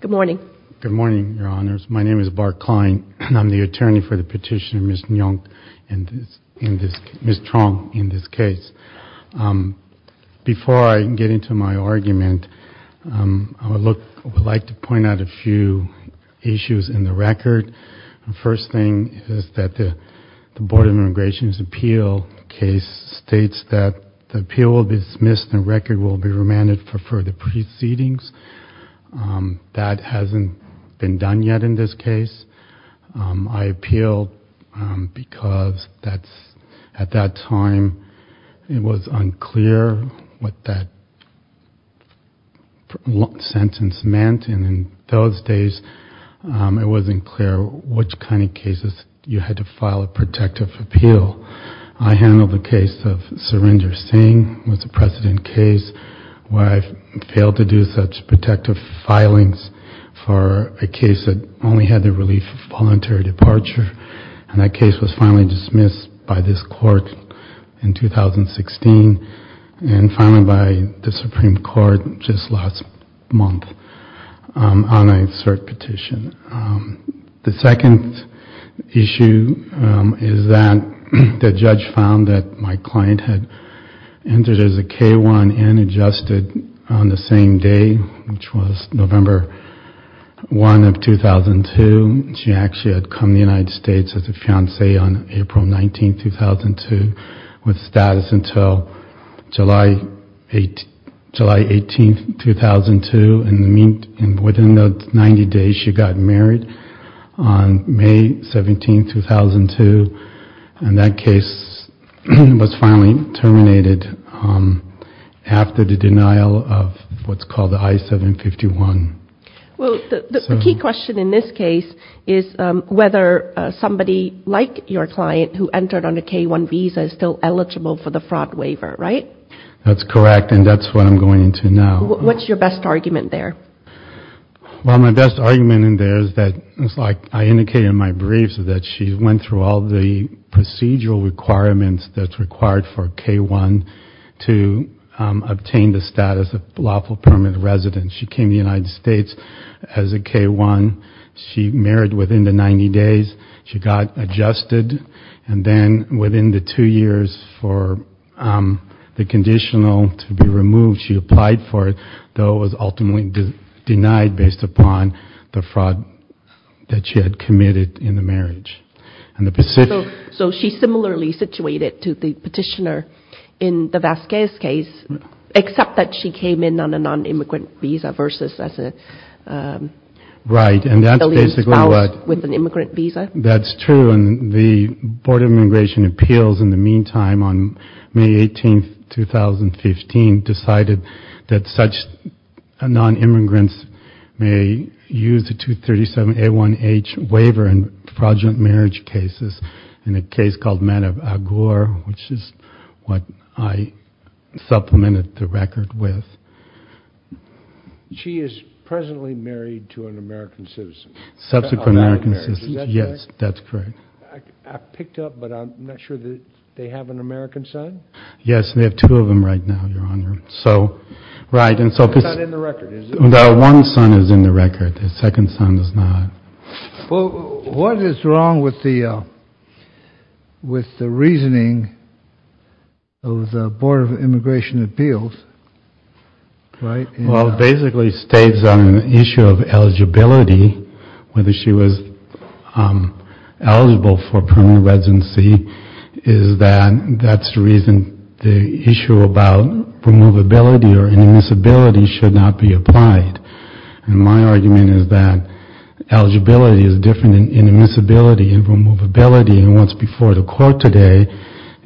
Good morning. Good morning, Your Honors. My name is Bart Klein and I'm the attorney for the petitioner, Ms. Truong, in this case. Before I get into my argument, I would like to point out a few issues in the record. The first thing is that the Board of Immigration's appeal case states that the appeal will be dismissed and the record will be remanded for further proceedings. That hasn't been done yet in this case. I appealed because at that time it was unclear what that sentence meant and in those days it wasn't clear which kind of cases you had to file a protective appeal. I handled the case of Surrender Singh. It was a precedent case where I failed to do such protective filings for a case that only had the relief of voluntary departure and that case was finally dismissed by this court in 2016 and finally by the Supreme Court just last month on a cert petition. The second issue is that the judge found that my client had entered as a K-1 and adjusted on the same day, which was November 1 of 2002. She actually had come to the United States as a fiancee on April 19, 2002 with status until July 18, 2002 and within 90 days she got married on May 17, 2002 and that case was finally terminated after the denial of what's called the I-751. Well the key question in this case is whether somebody like your client who entered on a K-1 visa is still eligible for the fraud waiver, right? That's correct and that's what I'm going into now. What's your best argument there? Well my best argument in there is that it's like I indicated in my briefs that she went through all the procedural requirements that's required for K-1 to obtain the status of lawful permanent residence. She came to the United States as a K-1. She married within the 90 days. She got adjusted and then within the two years for the conditional to be removed she applied for it, though it was ultimately denied based upon the fraud that she had committed in the marriage. So she's similarly situated to the petitioner in the Vasquez case except that she came in on a non-immigrant visa versus as a spouse with an immigrant visa? That's true and the that such non-immigrants may use the 237 A1H waiver in fraudulent marriage cases in a case called Man of Agor which is what I supplemented the record with. She is presently married to an American citizen? Subsequent American citizen, yes that's correct. I picked up but I'm not sure that they have an American son? Yes they have two of them right now your honor. So right and so the one son is in the record the second son does not. Well what is wrong with the with the reasoning of the Board of Immigration Appeals right? Well basically states on an issue of eligibility whether she was eligible for permanent residency is that that's the reason the issue about removability or inadmissibility should not be applied and my argument is that eligibility is different than inadmissibility and removability and what's before the court today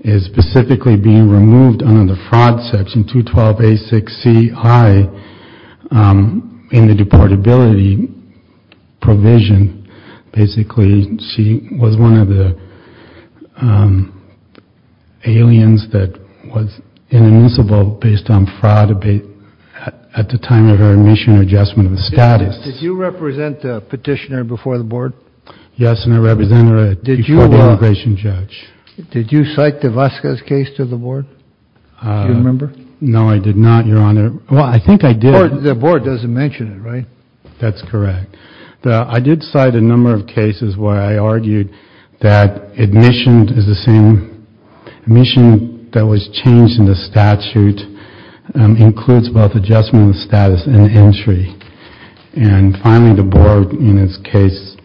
is specifically being removed under the fraud section 212 A6C I in the aliens that was inadmissible based on fraud at the time of her admission or adjustment of the status. Did you represent the petitioner before the board? Yes and I represent her before the immigration judge. Did you cite the Vasquez case to the board? Do you remember? No I did not your honor well I think I did. The board doesn't mention it right? That's correct. I did cite a number of cases where I argued that admission is the same mission that was changed in the statute includes both adjustment of status and entry and finally the board in its case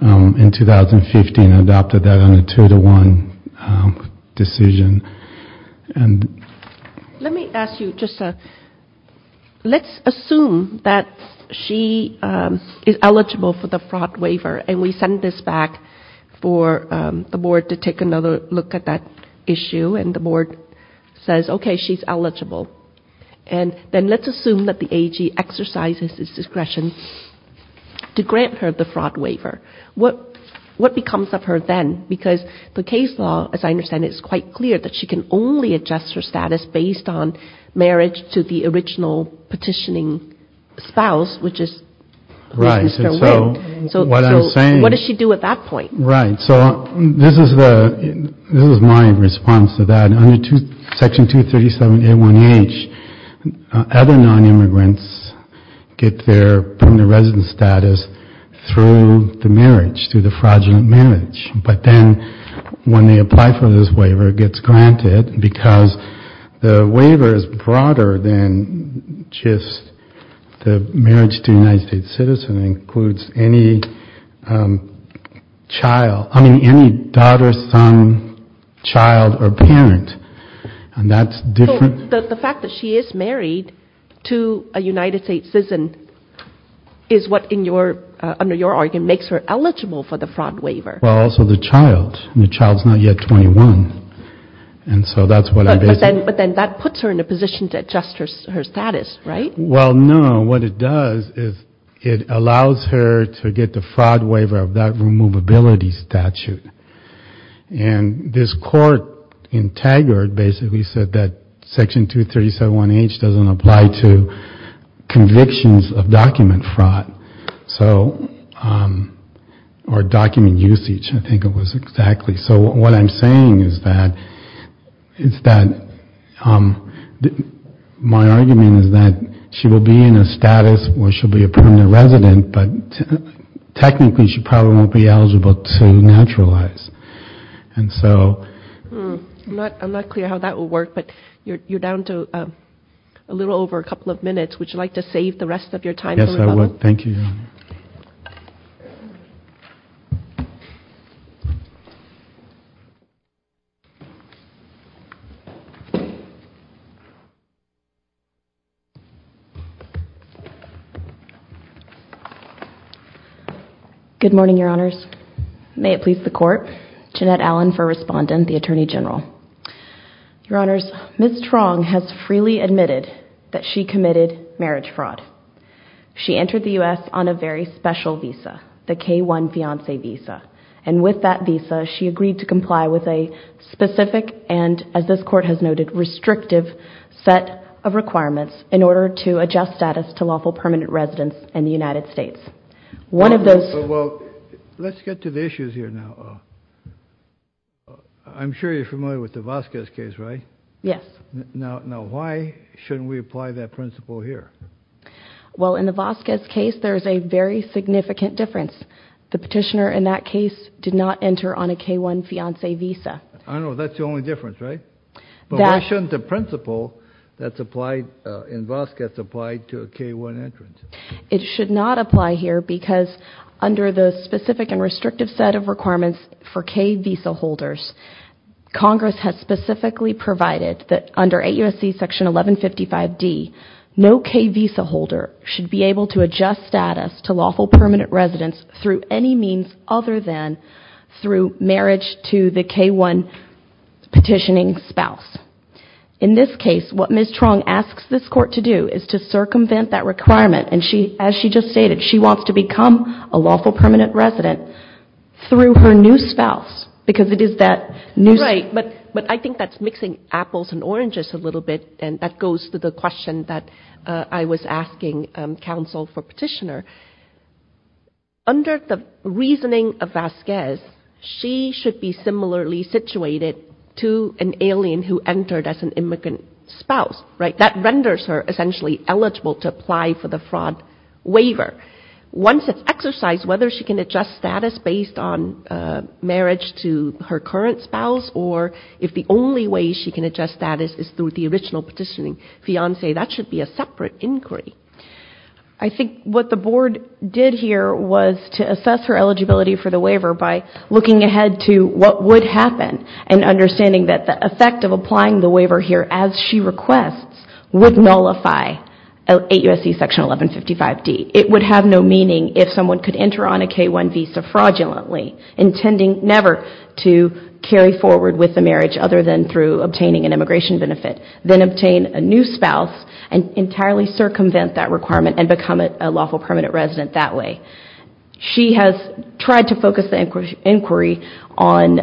in 2015 adopted that on a two-to-one decision and let me ask you just let's assume that she is eligible for the fraud waiver and we send this back for the board to take another look at that issue and the board says okay she's eligible and then let's assume that the AG exercises its discretion to grant her the fraud waiver what what becomes of her then because the case law as I understand it is quite clear that she can only adjust her status based on spouse which is right so what I'm saying what does she do at that point right so this is the this is my response to that under section 237 A1H other non-immigrants get their permanent residence status through the marriage through the fraudulent marriage but then when they apply for this waiver it gets granted because the waiver is broader than just the marriage to United States citizen includes any child I mean any daughter son child or parent and that's different the fact that she is married to a United States citizen is what in your under your argument makes her eligible for the fraud waiver also the child and the so that's what I said but then that puts her in a position to adjust her status right well no what it does is it allows her to get the fraud waiver of that removability statute and this court in Taggart basically said that section 237 A1H doesn't apply to convictions of document fraud so or document usage I was exactly so what I'm saying is that it's that my argument is that she will be in a status where she'll be a permanent resident but technically she probably won't be eligible to naturalize and so I'm not clear how that will work but you're down to a little over a couple of minutes would you like to save the rest of your time yes I would thank you good morning your honors may it please the court Jeanette Allen for respondent the Attorney General your honors miss wrong has freely admitted that she committed marriage fraud she entered the u.s. on a very special visa the k1 fiance visa and with that visa she agreed to comply with a specific and as this court has noted restrictive set of requirements in order to adjust status to lawful permanent residence in the United States one of those well let's get to the issues here now I'm sure you're familiar with the Vasquez case right yes now now why shouldn't we apply that principle here well in the Vasquez case there is a very significant difference the petitioner in that case did not enter on a k1 fiance visa I know that's the only difference right that shouldn't the principle that's applied in Vasquez applied to a k1 entrance it should not apply here because under the Congress has specifically provided that under a USC section 1155 D no K visa holder should be able to adjust status to lawful permanent residence through any means other than through marriage to the k1 petitioning spouse in this case what miss wrong asks this court to do is to circumvent that requirement and she as she just stated she wants to become a lawful permanent resident through her spouse because it is that new right but but I think that's mixing apples and oranges a little bit and that goes to the question that I was asking counsel for petitioner under the reasoning of Vasquez she should be similarly situated to an alien who entered as an immigrant spouse right that renders her essentially eligible to apply for the fraud waiver once it's exercised whether she can adjust status based on marriage to her current spouse or if the only way she can adjust status is through the original petitioning fiance that should be a separate inquiry I think what the board did here was to assess her eligibility for the waiver by looking ahead to what would happen and understanding that the effect of applying the waiver here as she requests would nullify a USC section 1155 D it would have no meaning if someone could enter on a K-1 visa fraudulently intending never to carry forward with the marriage other than through obtaining an immigration benefit then obtain a new spouse and entirely circumvent that requirement and become a lawful permanent resident that way she has tried to focus the inquiry on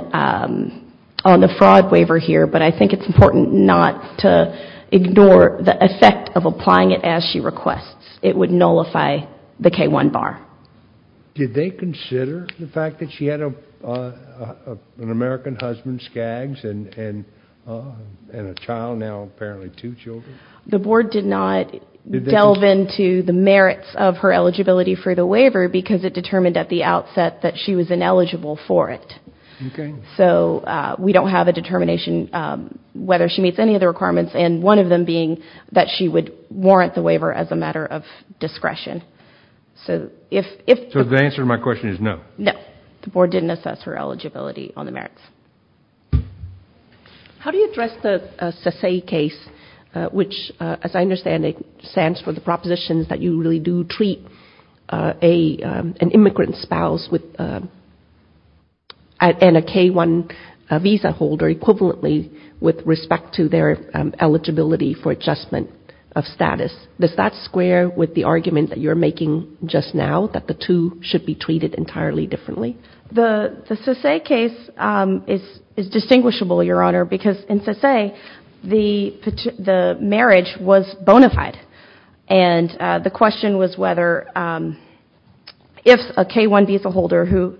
on the fraud waiver here but I think it's important not to ignore the effect of did they consider the fact that she had a an American husband skags and and a child now apparently two children the board did not delve into the merits of her eligibility for the waiver because it determined at the outset that she was ineligible for it so we don't have a determination whether she meets any of the requirements and one of them being that she would warrant the waiver as a answer my question is no no the board didn't assess her eligibility on the merits how do you address the sasay case which as I understand it stands for the propositions that you really do treat a an immigrant spouse with and a k1 visa holder equivalently with respect to their eligibility for adjustment of status does that square with the argument that you're making just now that the two should be treated entirely differently the sasay case is distinguishable your honor because in sasay the marriage was bona fide and the question was whether if a k1 visa holder who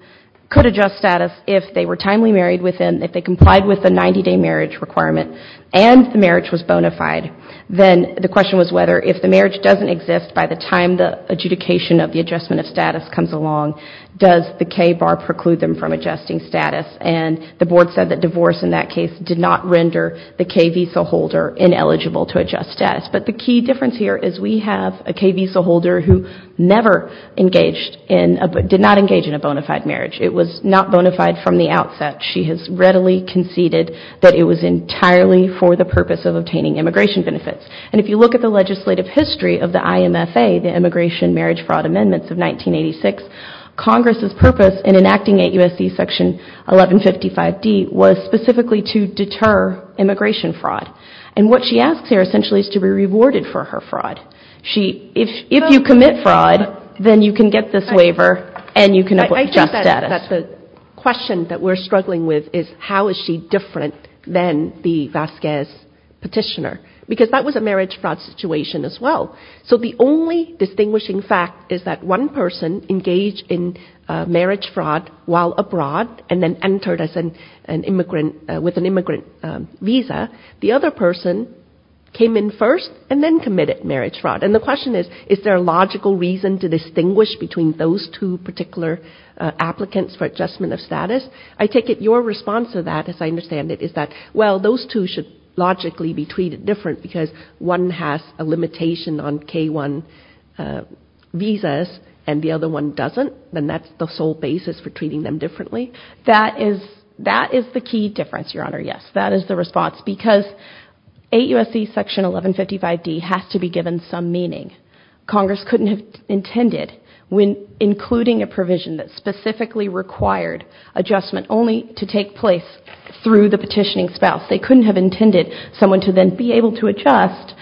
could adjust status if they were timely married within if they complied with the 90-day marriage requirement and the marriage was bona fide then the question was whether if the marriage doesn't exist by the time the adjudication of the adjustment of status comes along does the K bar preclude them from adjusting status and the board said that divorce in that case did not render the K visa holder ineligible to adjust status but the key difference here is we have a K visa holder who never engaged in but did not engage in a bona fide marriage it was not bona fide from the outset she has readily conceded that it was entirely for the purpose of of the IMFA the immigration marriage fraud amendments of 1986 Congress's purpose in enacting a USC section 1155 D was specifically to deter immigration fraud and what she asks here essentially is to be rewarded for her fraud she if if you commit fraud then you can get this waiver and you can adjust that that's the question that we're struggling with is how is she different than the Vasquez petitioner because that was a marriage fraud situation as well so the only distinguishing fact is that one person engaged in marriage fraud while abroad and then entered as an immigrant with an immigrant visa the other person came in first and then committed marriage fraud and the question is is there a logical reason to distinguish between those two particular applicants for adjustment of status I take it your response to that as I understand it is that well those two should logically be treated different because one has a limitation on k1 visas and the other one doesn't then that's the sole basis for treating them differently that is that is the key difference your honor yes that is the response because a USC section 1155 D has to be given some meaning Congress couldn't have intended when including a provision that specifically required adjustment only to take place through the petitioning spouse they couldn't have intended someone to then be able to adjust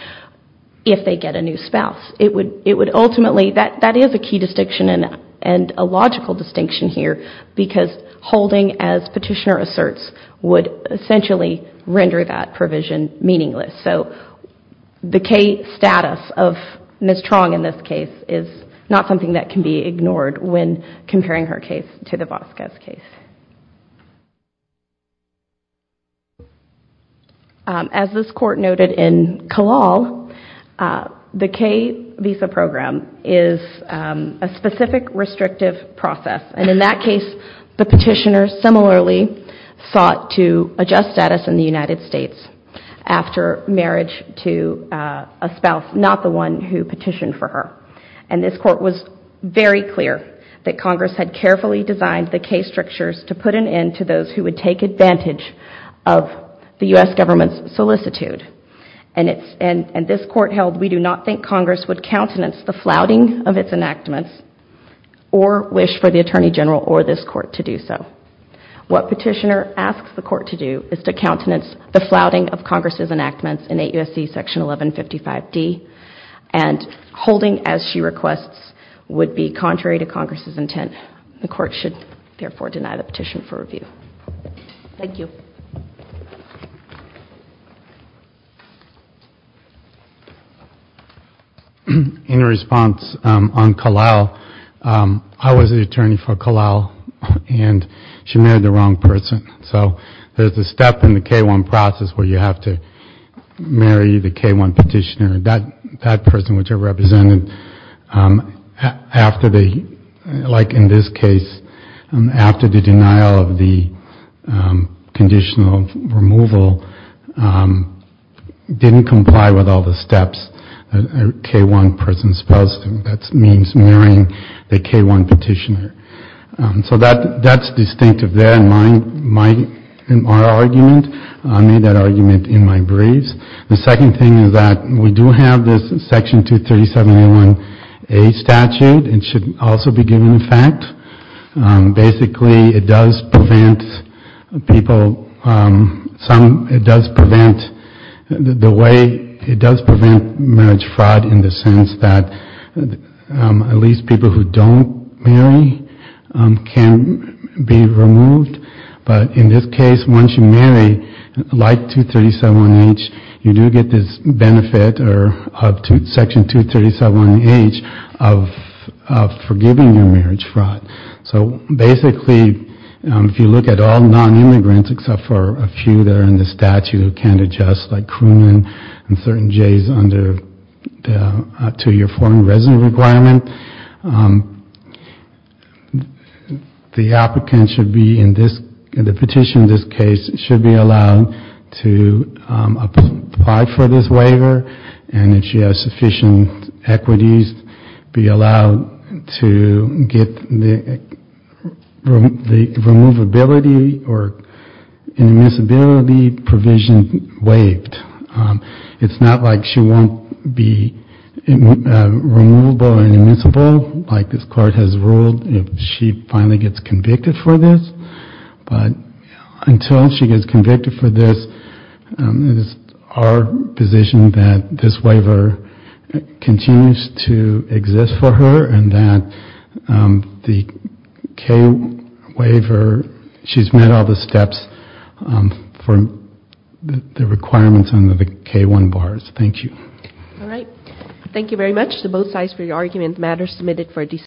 if they get a new spouse it would it would ultimately that that is a key distinction and and a logical distinction here because holding as petitioner asserts would essentially render that provision meaningless so the k-status of mistrong in this case is not something that can be ignored when comparing her case to the Vasquez case as this court noted in Kalal the K visa program is a specific restrictive process and in that case the petitioner similarly sought to adjust status in the United States after marriage to a spouse not the one who petitioned for her and this court was very clear that Congress had carefully designed the case to put an end to those who would take advantage of the US government's solicitude and it's and and this court held we do not think Congress would countenance the flouting of its enactments or wish for the Attorney General or this court to do so what petitioner asks the court to do is to countenance the flouting of Congress's enactments in a USC section 1155 D and holding as she requests would be contrary to Congress's intent the court should therefore deny the petition for review thank you in response on Kalal I was the attorney for Kalal and she married the wrong person so there's a step in the k1 process where you have to marry the k1 petitioner that that person which I represented after the like in this case and after the denial of the conditional removal didn't comply with all the steps k1 person spouse that means marrying the k1 petitioner so that that's distinctive their mind my argument I made that argument in my braids the second thing is that we do have this section 237 a 1a statute and should also be given in basically it does prevent people some it does prevent the way it does prevent marriage fraud in the sense that at least people who don't marry can be removed but in this case once you marry like 237 H you do get this benefit or up to section 237 H of forgiving your marriage fraud so basically if you look at all non-immigrants except for a few that are in the statute who can't adjust like crewman and certain J's under to your foreign resident requirement the applicant should be in this in the petition in this case it should be sufficient equities be allowed to get the ability or the provision waived it's not like she won't be like this card has ruled she finally gets convicted for continues to exist for her and that the waiver she's met all the steps from the requirements under the k1 bars thank you all right thank you very much the both sides for your argument matters submitted for